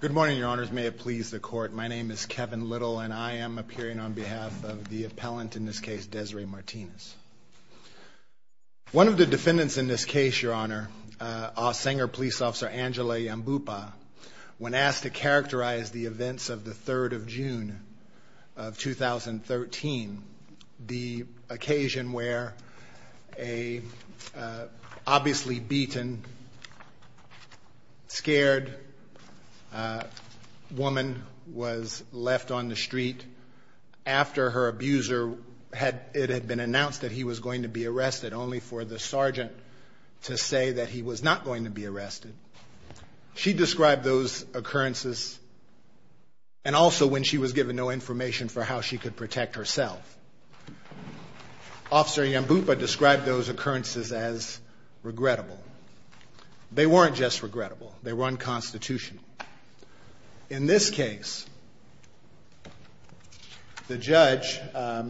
Good morning, your honors. May it please the court. My name is Kevin Little, and I am appearing on behalf of the appellant in this case, Desiree Martinez. One of the defendants in this case, your honor, a singer police officer, Angela Yambupa, when asked to characterize the events of the 3rd of June of 2013, the occasion where a obviously beaten, scared woman was left on the street after her abuser, it had been announced that he was going to be arrested, only for the sergeant to say that he was not going to be arrested. She described those occurrences as regrettable. They weren't just regrettable, they were unconstitutional. In this case, the judge, a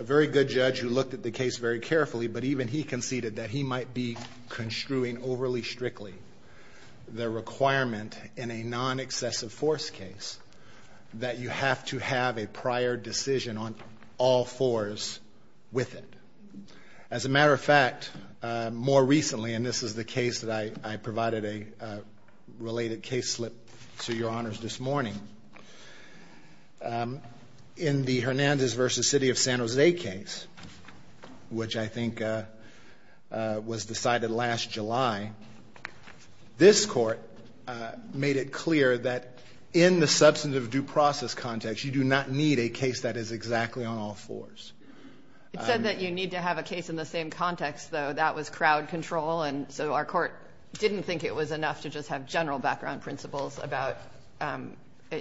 very good judge who looked at the case very carefully, but even he conceded that he might be construing overly strictly the requirement in a non-accessible force case that you have to have a prior decision on all fours with it. As a matter of fact, more recently, and this is the case that I provided a related case slip to your honors this morning, in the Hernandez v. City of San Jose case, which I think was decided last July, this court made it clear that in the substantive due process context, you do not need a case that is exactly on all fours. It said that you need to have a case in the same context, though. That was crowd control, and so our court didn't think it was enough to just have general background principles about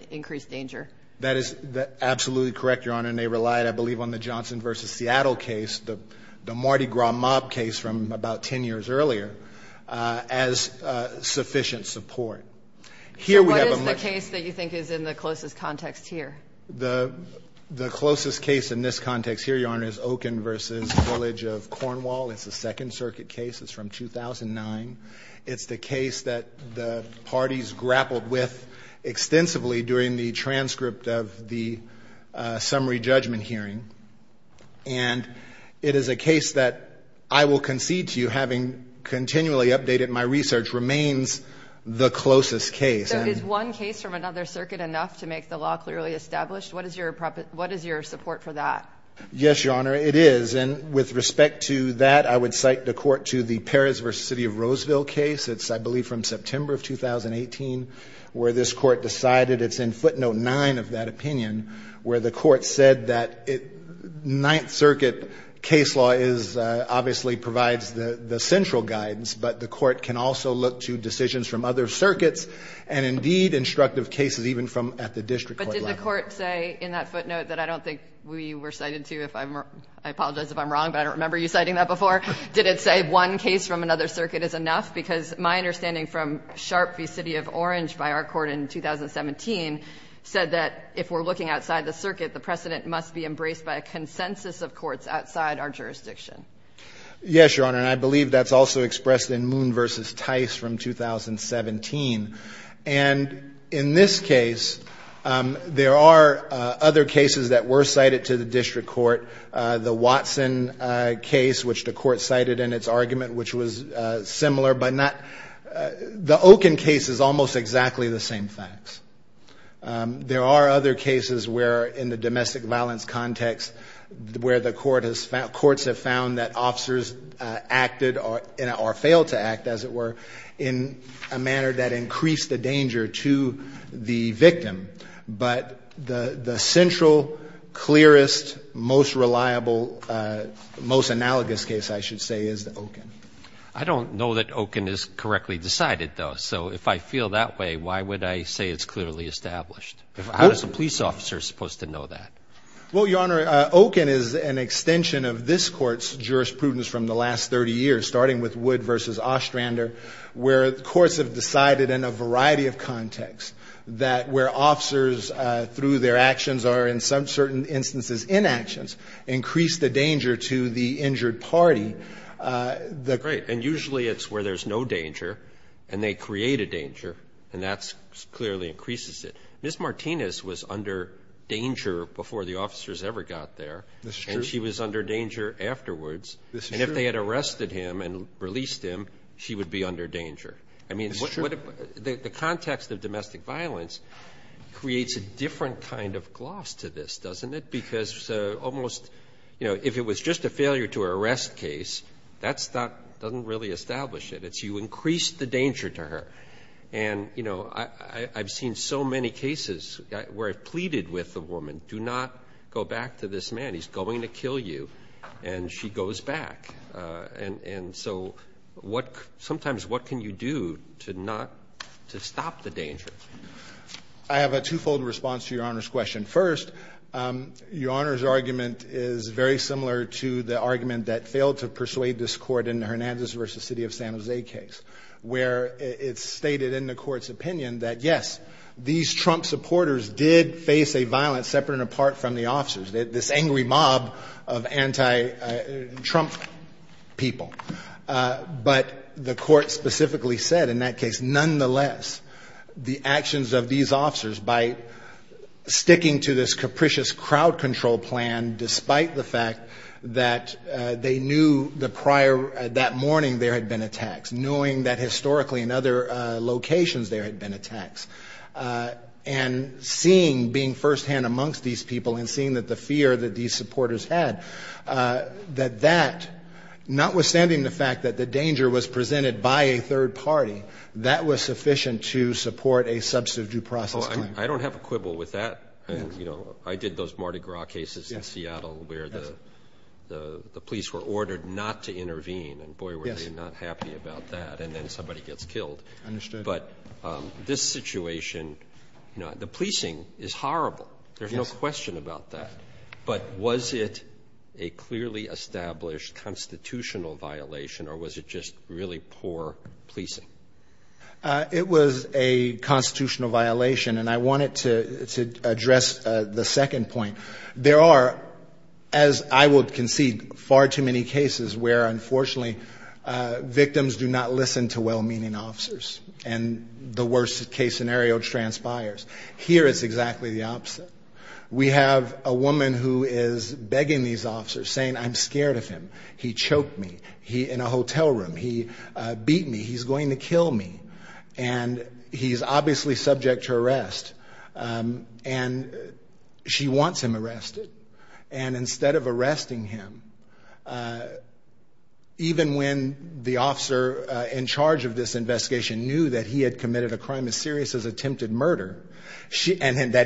increased danger. That is absolutely correct, your honor, and they relied, I believe, on the Johnson v. Seattle case, the Mardi Gras mob case from about 10 years earlier, as sufficient support. Here we have a much. So what is the case that you think is in the closest context here? The closest case in this context here, your honor, is Okun v. Village of Cornwall. It's a Second Circuit case. It's from 2009. It's the case that the parties grappled with extensively during the transcript of the summary judgment hearing, and it is a case that I will concede to you, having continually updated my research, remains the closest case. So is one case from another circuit enough to make the law clearly established? What is your support for that? Yes, your honor, it is, and with respect to that, I would cite the court to the Perez v. City of Roseville case. It's, I believe, from September of 2018, where this court decided. It's in footnote 9 of that opinion, where the court said that Ninth Circuit case law is, obviously, provides the central guidance, but the court can also look to decisions from other circuits and, indeed, instructive cases, even from at the district court level. But did the court say in that footnote that I don't think we were cited to, if I'm wrong, I apologize if I'm wrong, but I don't remember you citing that before, did it say one case from another circuit is enough? Because my understanding from Sharpe v. City of Orange, by our court in 2017, said that if we're looking outside the circuit, the precedent must be embraced by a consensus of courts outside our jurisdiction. Yes, your honor, and I believe that's also expressed in Moon v. Tice from 2017. And in this case, there are other cases that were cited to the district court. The Watson case, which the court cited in its argument, which was similar, but not the Okin case is almost exactly the same facts. There are other cases where, in the domestic violence context, where the courts have found that officers acted or failed to act, as it were, in a manner that increased the danger to the victim. But the central, clearest, most reliable, most analogous case, I should say, is the Okin. I don't know that Okin is correctly decided, though, so if I feel that way, why would I say it's clearly established? How is a police officer supposed to know that? Well, your honor, Okin is an extension of this court's jurisprudence from the last 30 years, starting with Wood v. Ostrander, where courts have decided in a variety of contexts that where officers, through their actions or in some certain instances, inactions, increase the danger to the injured party. The great. And usually it's where there's no danger, and they create a danger, and that clearly increases it. Ms. Martinez was under danger before the officers ever got there. This is true. And she was under danger afterwards. This is true. And if they had arrested him and released him, she would be under danger. I mean, the context of domestic violence creates a different kind of gloss to this, doesn't it? Because almost, you know, if it was just a failure-to-arrest case, that doesn't really establish it. It's you increase the danger to her. And, you know, I've seen so many cases where I've pleaded with a woman, do not go back to this man. He's going to kill you, and she goes back. And so sometimes what can you do to stop the danger? I have a twofold response to Your Honor's question. First, Your Honor's argument is very similar to the argument that failed to persuade this court in the Hernandez v. City of San Jose case, where it's stated in the court's opinion that, yes, these Trump supporters did face a violence separate and apart from the officers. This angry mob of anti-Trump people. But the court specifically said in that case, nonetheless, the actions of these officers, by sticking to this capricious crowd control plan, despite the fact that they knew that morning there had been attacks, knowing that historically in other locations there had been attacks, and seeing, being firsthand amongst these people and seeing the fear that these supporters had, that that, notwithstanding the fact that the danger was presented by a third party, that was sufficient to support a substantive due process claim. Oh, I don't have a quibble with that. You know, I did those Mardi Gras cases in Seattle where the police were ordered not to intervene. And boy, were they not happy about that. And then somebody gets killed. Understood. But this situation, you know, the policing is horrible. There's no question about that. But was it a clearly established constitutional violation or was it just really poor policing? It was a constitutional violation. And I wanted to address the second point. There are, as I would concede, far too many cases where, unfortunately, victims do not listen to well-meaning officers. And the worst case scenario transpires. Here it's exactly the opposite. We have a woman who is begging these officers, saying, I'm scared of him. He choked me in a hotel room. He beat me. He's going to kill me. And he's obviously subject to arrest. And she wants him arrested. And that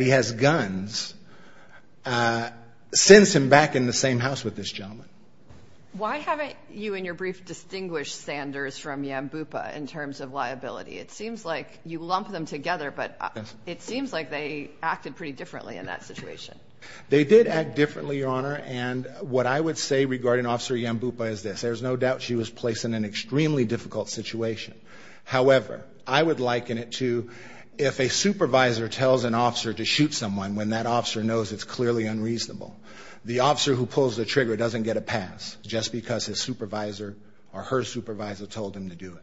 he has guns sends him back in the same house with this gentleman. Why haven't you in your brief distinguished Sanders from Yambupa in terms of liability? It seems like you lump them together, but it seems like they acted pretty differently in that situation. They did act differently, Your Honor. And what I would say regarding Officer Yambupa is this. There's no doubt she was placed in an extremely difficult situation. However, I would liken it to if a supervisor tells an officer to shoot someone when that officer knows it's clearly unreasonable. The officer who pulls the trigger doesn't get a pass just because his supervisor or her supervisor told him to do it.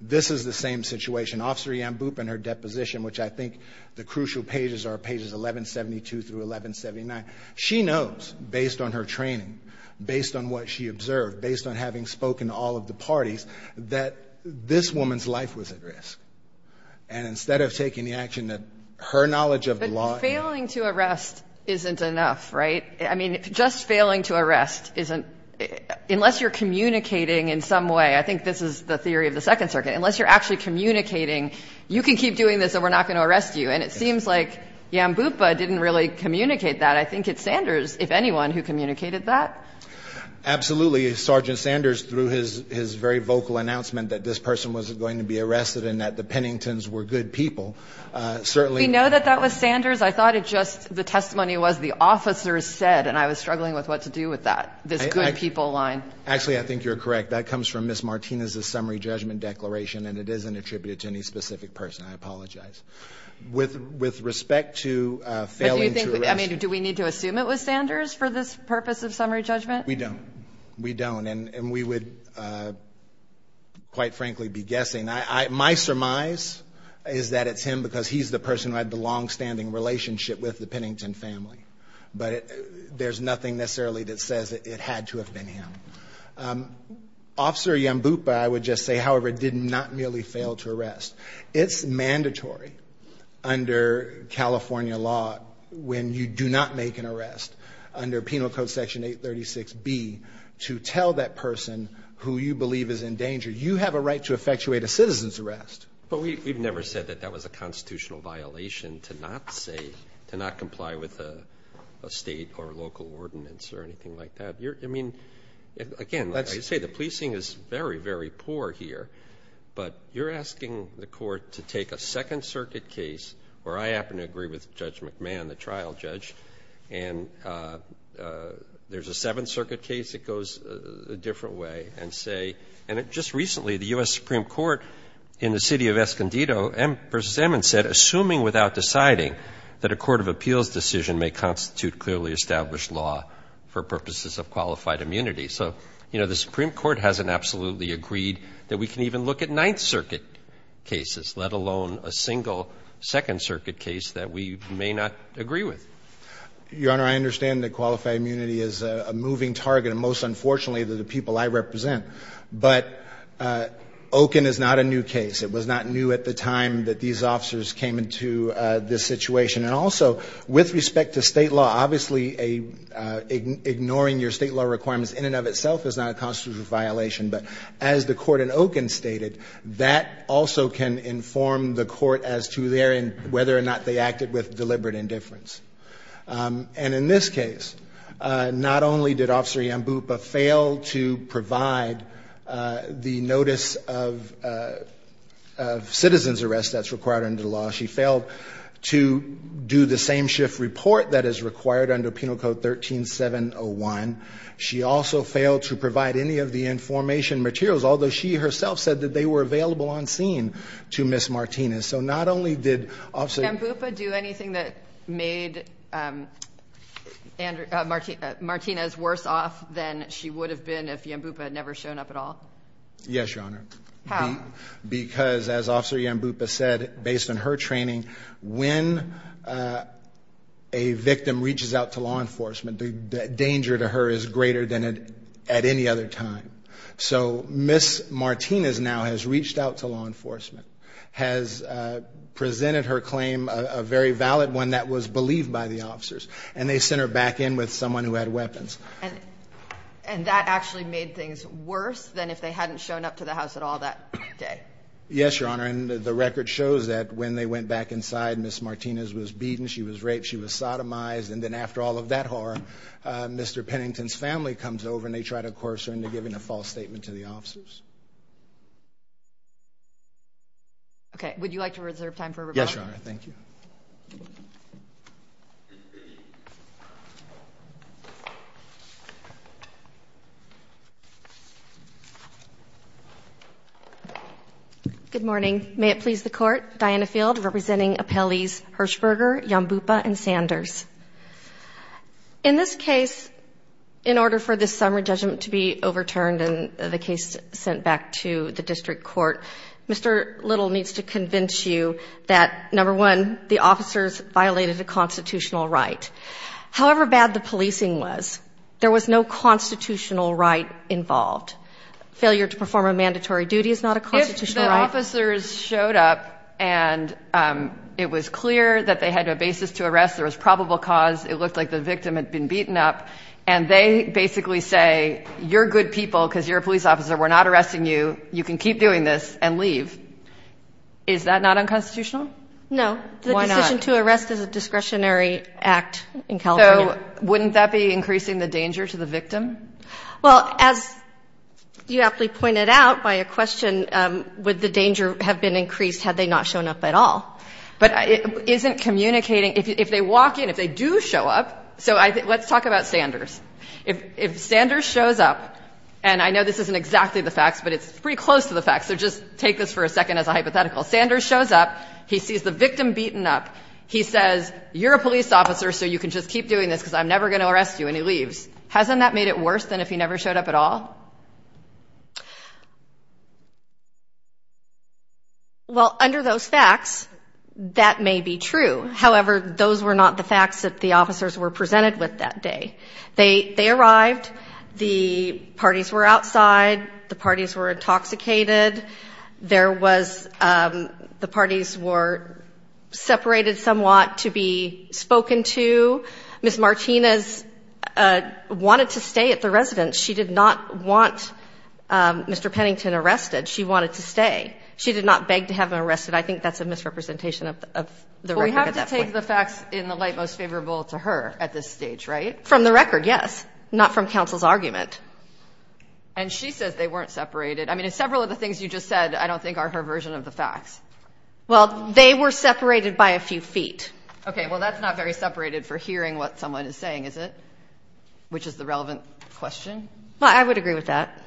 This is the same situation. Officer Yambupa in her deposition, which I think the crucial pages are pages 1172 through 1179, she knows, based on her training, based on what she observed, based on having spoken to all of the parties, that this woman's life was at risk. And instead of taking the action that her knowledge of the law. But failing to arrest isn't enough, right? I mean, just failing to arrest isn't unless you're communicating in some way. I think this is the theory of the Second Circuit. Unless you're actually communicating, you can keep doing this, and we're not going to arrest you. And it seems like Yambupa didn't really communicate that. I think it's Sanders, if anyone, who communicated that. Absolutely. Sergeant Sanders, through his very vocal announcement that this person was going to be arrested and that the Penningtons were good people, certainly. We know that that was Sanders. I thought it just the testimony was the officer said, and I was struggling with what to do with that, this good people line. Actually, I think you're correct. That comes from Ms. Martinez's summary judgment declaration, and it isn't attributed to any specific person. I apologize. With respect to failing to arrest. We don't. We don't, and we would, quite frankly, be guessing. My surmise is that it's him because he's the person who had the longstanding relationship with the Pennington family. But there's nothing necessarily that says it had to have been him. Officer Yambupa, I would just say, however, did not merely fail to arrest. It's mandatory under California law when you do not make an arrest under Penal Code Section 836B to tell that person who you believe is in danger, you have a right to effectuate a citizen's arrest. But we've never said that that was a constitutional violation to not say, to not comply with a state or local ordinance or anything like that. I mean, again, like I say, the policing is very, very poor here. But you're asking the Court to take a Second Circuit case where I happen to agree with Judge McMahon, the trial judge, and there's a Seventh Circuit case that goes a different way and say, and just recently the U.S. Supreme Court in the city of Escondido v. Emmons said, Assuming without deciding that a court of appeals decision may constitute clearly established law for purposes of qualified immunity. So, you know, the Supreme Court hasn't absolutely agreed that we can even look at Ninth Circuit cases, let alone a single Second Circuit case that we may not agree with. Your Honor, I understand that qualified immunity is a moving target, and most unfortunately the people I represent. But Okun is not a new case. It was not new at the time that these officers came into this situation. And also, with respect to state law, obviously ignoring your state law requirements in and of itself is not a constitutional violation. But as the Court in Okun stated, that also can inform the Court as to whether or not they acted with deliberate indifference. And in this case, not only did Officer Yambupa fail to provide the notice of citizen's arrest that's required under the law, she failed to do the same shift report that is required under Penal Code 13701. She also failed to provide any of the information materials, although she herself said that they were available on scene to Ms. Martinez. So not only did Officer… Did Yambupa do anything that made Martinez worse off than she would have been if Yambupa had never shown up at all? Yes, Your Honor. How? Because, as Officer Yambupa said, based on her training, when a victim reaches out to law enforcement, the danger to her is greater than at any other time. So Ms. Martinez now has reached out to law enforcement, has presented her claim, a very valid one that was believed by the officers, and they sent her back in with someone who had weapons. And that actually made things worse than if they hadn't shown up to the house at all? Yes, Your Honor. And the record shows that when they went back inside, Ms. Martinez was beaten, she was raped, she was sodomized. And then after all of that horror, Mr. Pennington's family comes over and they try to coerce her into giving a false statement to the officers. Okay. Would you like to reserve time for rebuttal? Yes, Your Honor. Thank you. Good morning. May it please the Court. Diana Field representing appellees Hershberger, Yambupa, and Sanders. In this case, in order for this summary judgment to be overturned and the case sent back to the district court, Mr. Little needs to convince you that, number one, the officers violated a constitutional right. However bad the policing was, there was no constitutional right involved. Failure to perform a mandatory duty is not a constitutional right. If the officers showed up and it was clear that they had a basis to arrest, there was probable cause, it looked like the victim had been beaten up, and they basically say, you're good people because you're a police officer, we're not arresting you, you can keep doing this and leave, is that not unconstitutional? No. Why not? The decision to arrest is a discretionary act in California. So wouldn't that be increasing the danger to the victim? Well, as you aptly pointed out by a question, would the danger have been increased had they not shown up at all? But isn't communicating, if they walk in, if they do show up, so let's talk about Sanders. If Sanders shows up, and I know this isn't exactly the facts, but it's pretty close to the facts, so just take this for a second as a hypothetical. Sanders shows up, he sees the victim beaten up. He says, you're a police officer, so you can just keep doing this because I'm never going to arrest you, and he leaves. Hasn't that made it worse than if he never showed up at all? Well, under those facts, that may be true. However, those were not the facts that the officers were presented with that day. They arrived, the parties were outside, the parties were intoxicated, the parties were separated somewhat to be spoken to. Ms. Martinez wanted to stay at the residence. She did not want Mr. Pennington arrested. She wanted to stay. She did not beg to have him arrested. I think that's a misrepresentation of the record at that point. Well, we have to take the facts in the light most favorable to her at this stage, right? From the record, yes, not from counsel's argument. And she says they weren't separated. I mean, several of the things you just said I don't think are her version of the facts. Well, they were separated by a few feet. Okay, well, that's not very separated for hearing what someone is saying, is it, which is the relevant question? Well, I would agree with that.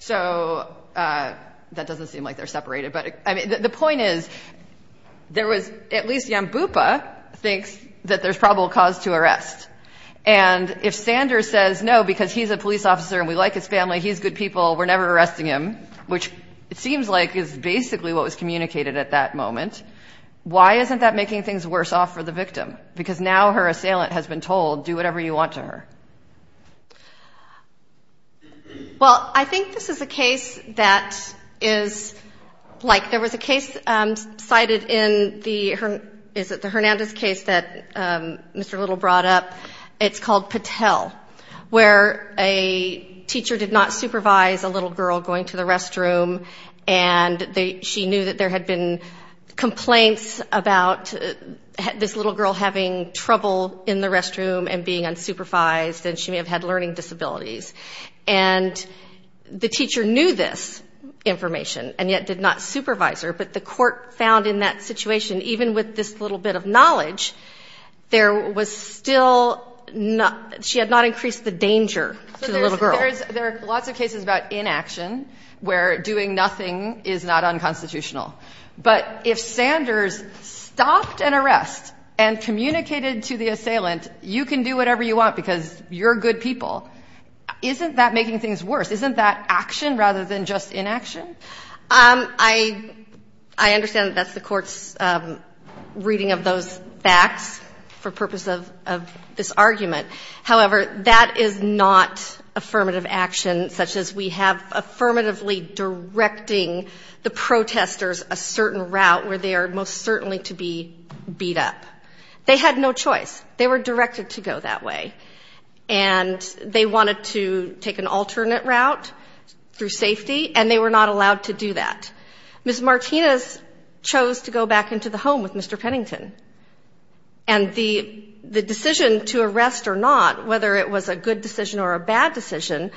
So that doesn't seem like they're separated. But, I mean, the point is there was at least Yambupa thinks that there's probable cause to arrest. And if Sanders says no because he's a police officer and we like his family, he's good people, we're never arresting him, which it seems like is basically what was communicated at that moment, why isn't that making things worse off for the victim? Because now her assailant has been told, do whatever you want to her. Well, I think this is a case that is like there was a case cited in the, is it the Hernandez case that Mr. Little brought up? It's called Patel, where a teacher did not supervise a little girl going to the restroom and she knew that there had been complaints about this little girl having trouble in the restroom and being unsupervised and she may have had learning disabilities. And the teacher knew this information and yet did not supervise her. But the court found in that situation, even with this little bit of knowledge, there was still not, she had not increased the danger to the little girl. There are lots of cases about inaction where doing nothing is not unconstitutional. But if Sanders stopped an arrest and communicated to the assailant, you can do whatever you want because you're good people, isn't that making things worse? Isn't that action rather than just inaction? I understand that that's the court's reading of those facts for purpose of this argument. However, that is not affirmative action, such as we have affirmatively directing the protesters a certain route where they are most certainly to be beat up. They had no choice. They were directed to go that way. And they wanted to take an alternate route through safety, and they were not allowed to do that. Ms. Martinez chose to go back into the home with Mr. Pennington. And the decision to arrest or not, whether it was a good decision or a bad decision,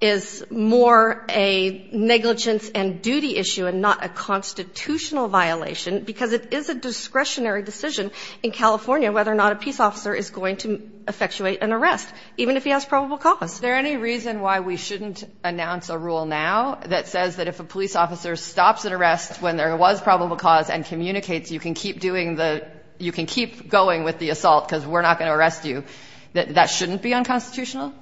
is more a negligence and duty issue and not a constitutional violation because it is a discretionary decision in California whether or not a peace officer is going to effectuate an arrest, even if he has probable cause. Is there any reason why we shouldn't announce a rule now that says that if a police officer stops an arrest when there was probable cause and communicates you can keep going with the assault because we're not going to arrest you, that that shouldn't be unconstitutional?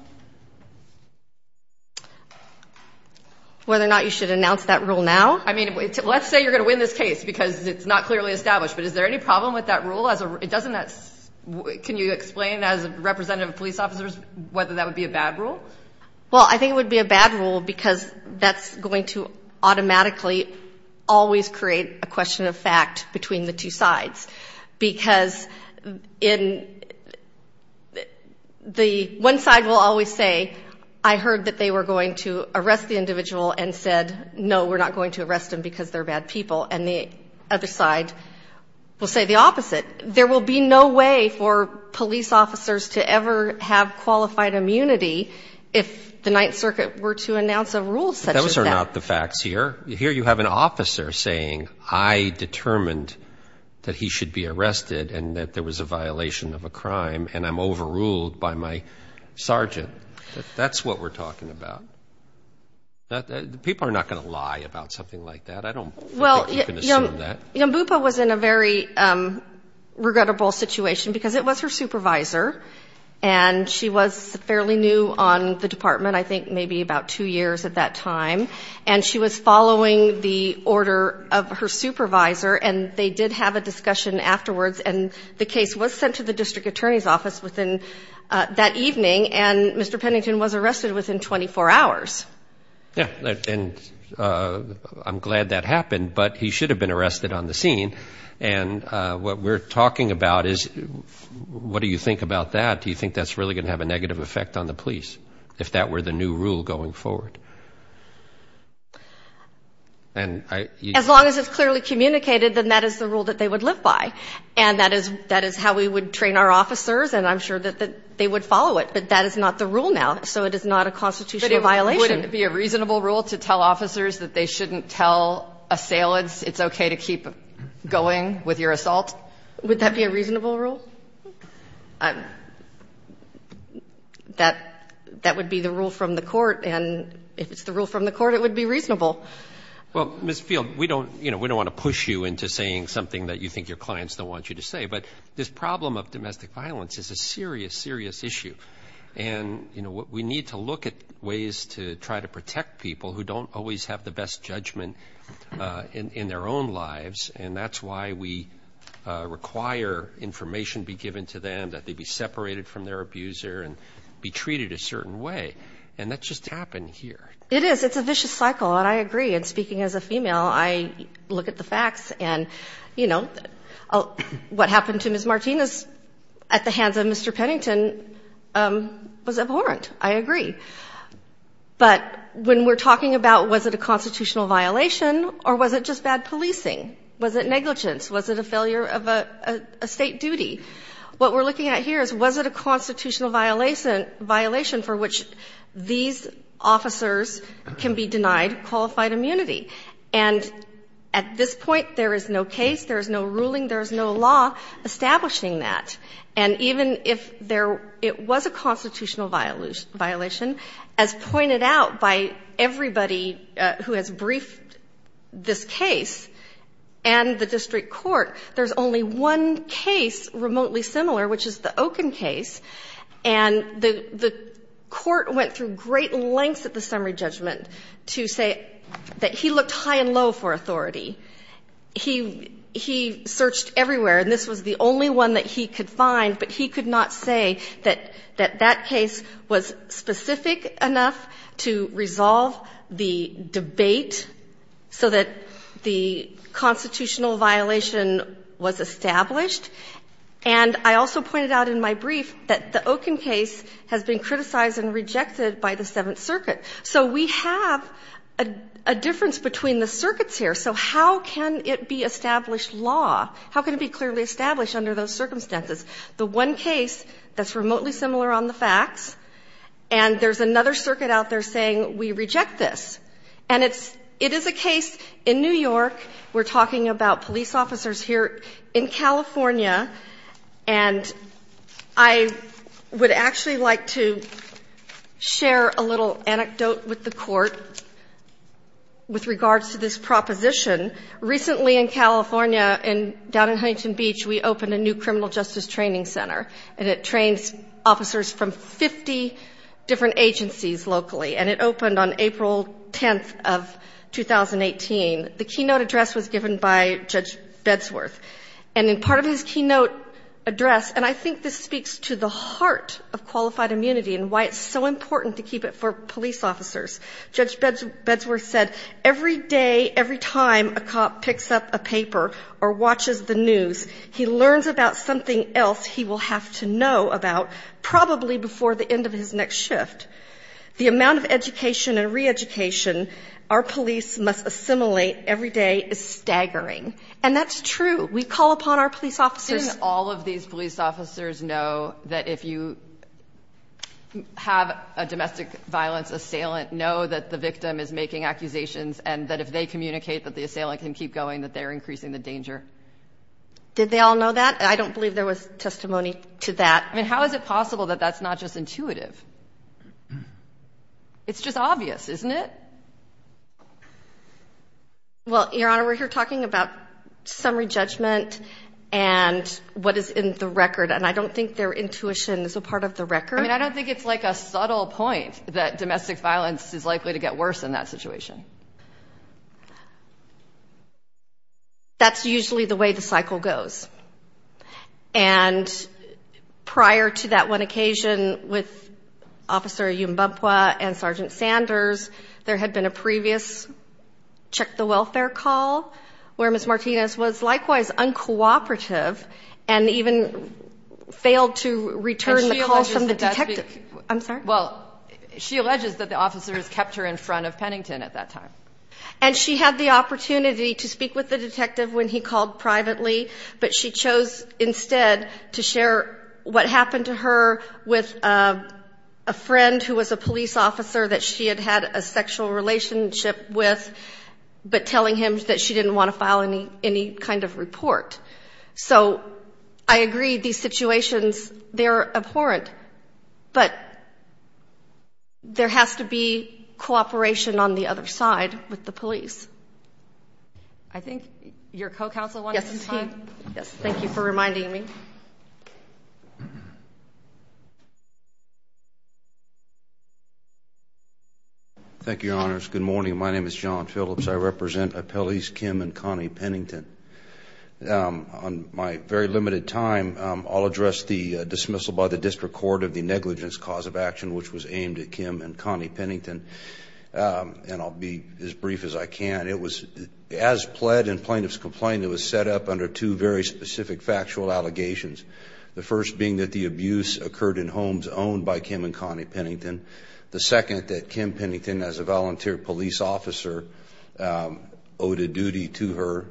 Whether or not you should announce that rule now? I mean, let's say you're going to win this case because it's not clearly established, but is there any problem with that rule? Can you explain as a representative of police officers whether that would be a bad rule? Well, I think it would be a bad rule because that's going to automatically always create a question of fact between the two sides. Because the one side will always say, I heard that they were going to arrest the individual and said, no, we're not going to arrest them because they're bad people. And the other side will say the opposite. There will be no way for police officers to ever have qualified immunity if the Ninth Circuit were to announce a rule such as that. But those are not the facts here. Here you have an officer saying, I determined that he should be arrested and that there was a violation of a crime and I'm overruled by my sergeant. That's what we're talking about. People are not going to lie about something like that. I don't think you can assume that. Well, Yambupa was in a very regrettable situation because it was her supervisor and she was fairly new on the department, I think maybe about two years at that time. And she was following the order of her supervisor and they did have a discussion afterwards and the case was sent to the district attorney's office within that evening and Mr. Pennington was arrested within 24 hours. Yeah, and I'm glad that happened, but he should have been arrested on the scene. And what we're talking about is, what do you think about that? Do you think that's really going to have a negative effect on the police if that were the new rule going forward? As long as it's clearly communicated, then that is the rule that they would live by. And that is how we would train our officers and I'm sure that they would follow it. But that is not the rule now, so it is not a constitutional violation. But wouldn't it be a reasonable rule to tell officers that they shouldn't tell assailants it's okay to keep going with your assault? Would that be a reasonable rule? That would be the rule from the court and if it's the rule from the court, it would be reasonable. Well, Ms. Field, we don't want to push you into saying something that you think your clients don't want you to say, but this problem of domestic violence is a serious, serious issue. And we need to look at ways to try to protect people who don't always have the best judgment in their own lives. And that's why we require information be given to them, that they be separated from their abuser and be treated a certain way. And that just happened here. It is. It's a vicious cycle and I agree. And speaking as a female, I look at the facts and, you know, what happened to Ms. Martinez at the hands of Mr. Pennington was abhorrent. I agree. But when we're talking about was it a constitutional violation or was it just bad policing? Was it negligence? Was it a failure of a State duty? What we're looking at here is was it a constitutional violation for which these officers can be denied qualified immunity? And at this point, there is no case, there is no ruling, there is no law establishing that. And even if there was a constitutional violation, as pointed out by everybody who has briefed this case and the district court, there's only one case remotely similar, which is the Oken case. And the court went through great lengths at the summary judgment to say that he looked high and low for authority. He searched everywhere and this was the only one that he could find, but he could not say that that case was specific enough to resolve the debate so that the constitutional violation was established. And I also pointed out in my brief that the Oken case has been criticized and rejected by the Seventh Circuit. So we have a difference between the circuits here. So how can it be established law? How can it be clearly established under those circumstances? The one case that's remotely similar on the facts, and there's another circuit out there saying we reject this. And it's – it is a case in New York. We're talking about police officers here in California. And I would actually like to share a little anecdote with the court with regards to this proposition. Recently in California, down in Huntington Beach, we opened a new criminal justice training center, and it trains officers from 50 different agencies locally. And it opened on April 10th of 2018. The keynote address was given by Judge Bedsworth. And in part of his keynote address, and I think this speaks to the heart of qualified immunity and why it's so important to keep it for police officers, Judge Bedsworth said, every day, every time a cop picks up a paper or watches the news, he learns about something else he will have to know about probably before the end of his next shift. The amount of education and reeducation our police must assimilate every day is staggering. And that's true. We call upon our police officers – Didn't all of these police officers know that if you have a domestic violence assailant, know that the victim is making accusations and that if they communicate that the assailant can keep going, that they're increasing the danger? Did they all know that? I don't believe there was testimony to that. I mean, how is it possible that that's not just intuitive? It's just obvious, isn't it? Well, Your Honor, we're here talking about summary judgment and what is in the record. And I don't think their intuition is a part of the record. I mean, I don't think it's like a subtle point that domestic violence is likely to get worse in that situation. That's usually the way the cycle goes. And prior to that one occasion with Officer Yumbumpua and Sergeant Sanders, there had been a previous check-the-welfare call where Ms. Martinez was likewise uncooperative and even failed to return the call from the detective. And she alleges that that's the – I'm sorry? Well, she alleges that the officers kept her in front of Pennington at that time. And she had the opportunity to speak with the detective when he called privately, but she chose instead to share what happened to her with a friend who was a police officer that she had had a sexual relationship with, but telling him that she didn't want to file any kind of report. So I agree, these situations, they're abhorrent. But there has to be cooperation on the other side with the police. I think your co-counsel wanted some time. Yes. Thank you for reminding me. Thank you, Your Honors. Good morning. My name is John Phillips. I represent appellees Kim and Connie Pennington. On my very limited time, I'll address the dismissal by the District Court of the negligence cause of action, which was aimed at Kim and Connie Pennington. And I'll be as brief as I can. It was, as pled in plaintiff's complaint, it was set up under two very specific factual allegations. The first being that the abuse occurred in homes owned by Kim and Connie Pennington. The second, that Kim Pennington, as a volunteer police officer, owed a duty to her,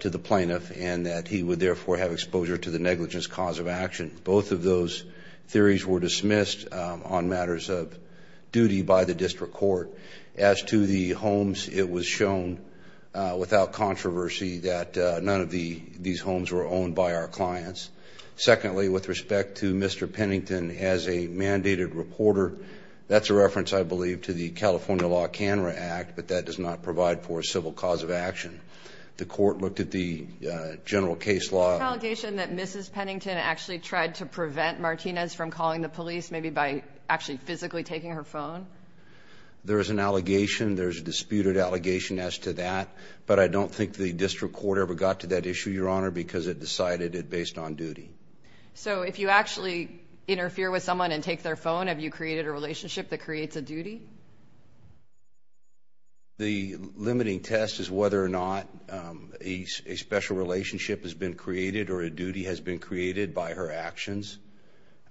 to the plaintiff, and that he would therefore have exposure to the negligence cause of action. Both of those theories were dismissed on matters of duty by the District Court. As to the homes, it was shown without controversy that none of these homes were owned by our clients. Secondly, with respect to Mr. Pennington as a mandated reporter, that's a reference, I believe, to the California Law Canra Act, but that does not provide for a civil cause of action. The court looked at the general case law. Is there an allegation that Mrs. Pennington actually tried to prevent Martinez from calling the police, maybe by actually physically taking her phone? There is an allegation. There is a disputed allegation as to that. But I don't think the District Court ever got to that issue, Your Honor, because it decided it based on duty. So if you actually interfere with someone and take their phone, have you created a relationship that creates a duty? The limiting test is whether or not a special relationship has been created or a duty has been created by her actions.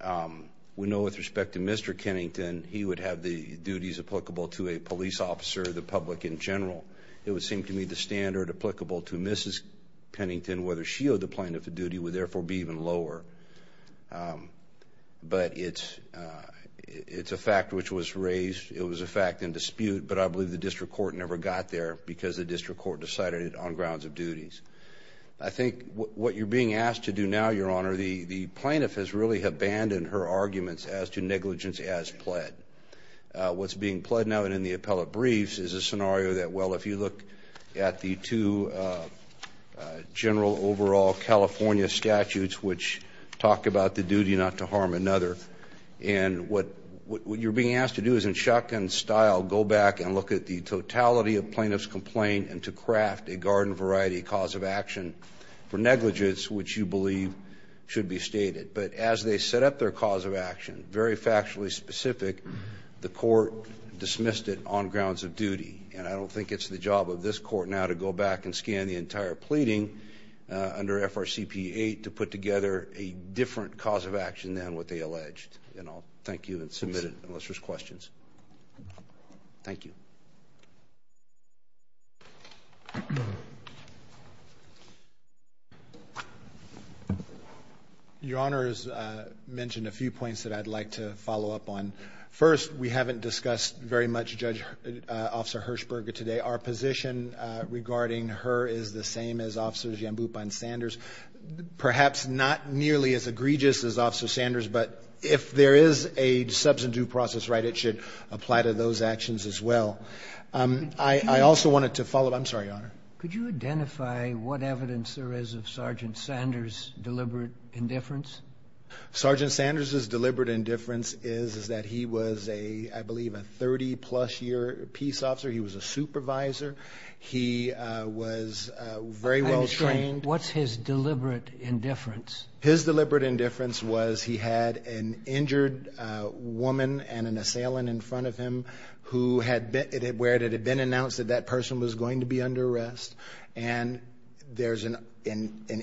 We know with respect to Mr. Pennington, he would have the duties applicable to a police officer, the public in general. It would seem to me the standard applicable to Mrs. Pennington, whether she owed the plaintiff a duty, would therefore be even lower. But it's a fact which was raised. It was a fact in dispute, but I believe the District Court never got there because the District Court decided it on grounds of duties. I think what you're being asked to do now, Your Honor, the plaintiff has really abandoned her arguments as to negligence as pled. What's being pled now and in the appellate briefs is a scenario that, well, if you look at the two general overall California statutes which talk about the duty not to harm another, and what you're being asked to do is in shotgun style go back and look at the totality of plaintiff's complaint and to craft a garden variety cause of action for negligence, which you believe should be stated. But as they set up their cause of action, very factually specific, the court dismissed it on grounds of duty. And I don't think it's the job of this court now to go back and scan the entire pleading under FRCP8 to put together a different cause of action than what they alleged. And I'll thank you and submit it unless there's questions. Thank you. Your Honor has mentioned a few points that I'd like to follow up on. First, we haven't discussed very much Judge Officer Hershberger today. Our position regarding her is the same as Officers Yambupa and Sanders. Perhaps not nearly as egregious as Officer Sanders, but if there is a substantive due process right, it should apply to those actions as well. I also wanted to follow up. I'm sorry, Your Honor. Could you identify what evidence there is of Sergeant Sanders' deliberate indifference? Sergeant Sanders' deliberate indifference is that he was, I believe, a 30-plus year peace officer. He was a supervisor. He was very well trained. What's his deliberate indifference? His deliberate indifference was he had an injured woman and an assailant in front of him where it had been announced that that person was going to be under arrest. And there's an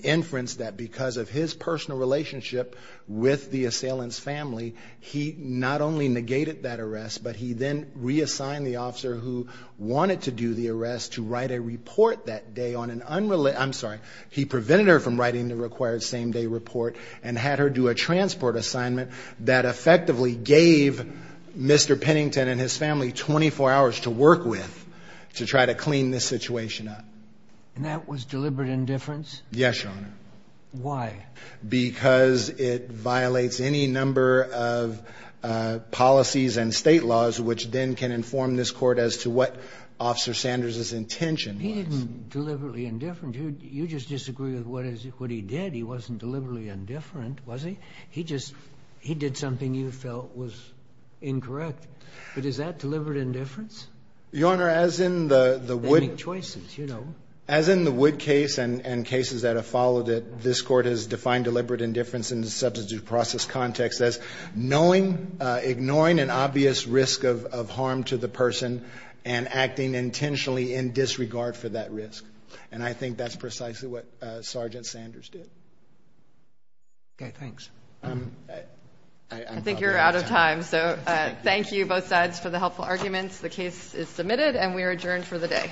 inference that because of his personal relationship with the assailant's family, he not only negated that arrest, but he then reassigned the officer who wanted to do the arrest to write a report that day on an unrelated I'm sorry. He prevented her from writing the required same day report and had her do a transport assignment that effectively gave Mr. Pennington and his family 24 hours to work with to try to clean this situation up. And that was deliberate indifference? Yes, Your Honor. Why? Because it violates any number of policies and state laws which then can inform this Court as to what Officer Sanders' intention was. But he didn't deliberately indifferent. You just disagree with what he did. He wasn't deliberately indifferent, was he? He just he did something you felt was incorrect. But is that deliberate indifference? Your Honor, as in the Wood case and cases that have followed it, this Court has defined an obvious risk of harm to the person and acting intentionally in disregard for that risk. And I think that's precisely what Sergeant Sanders did. Okay, thanks. I think you're out of time, so thank you both sides for the helpful arguments. The case is submitted and we are adjourned for the day.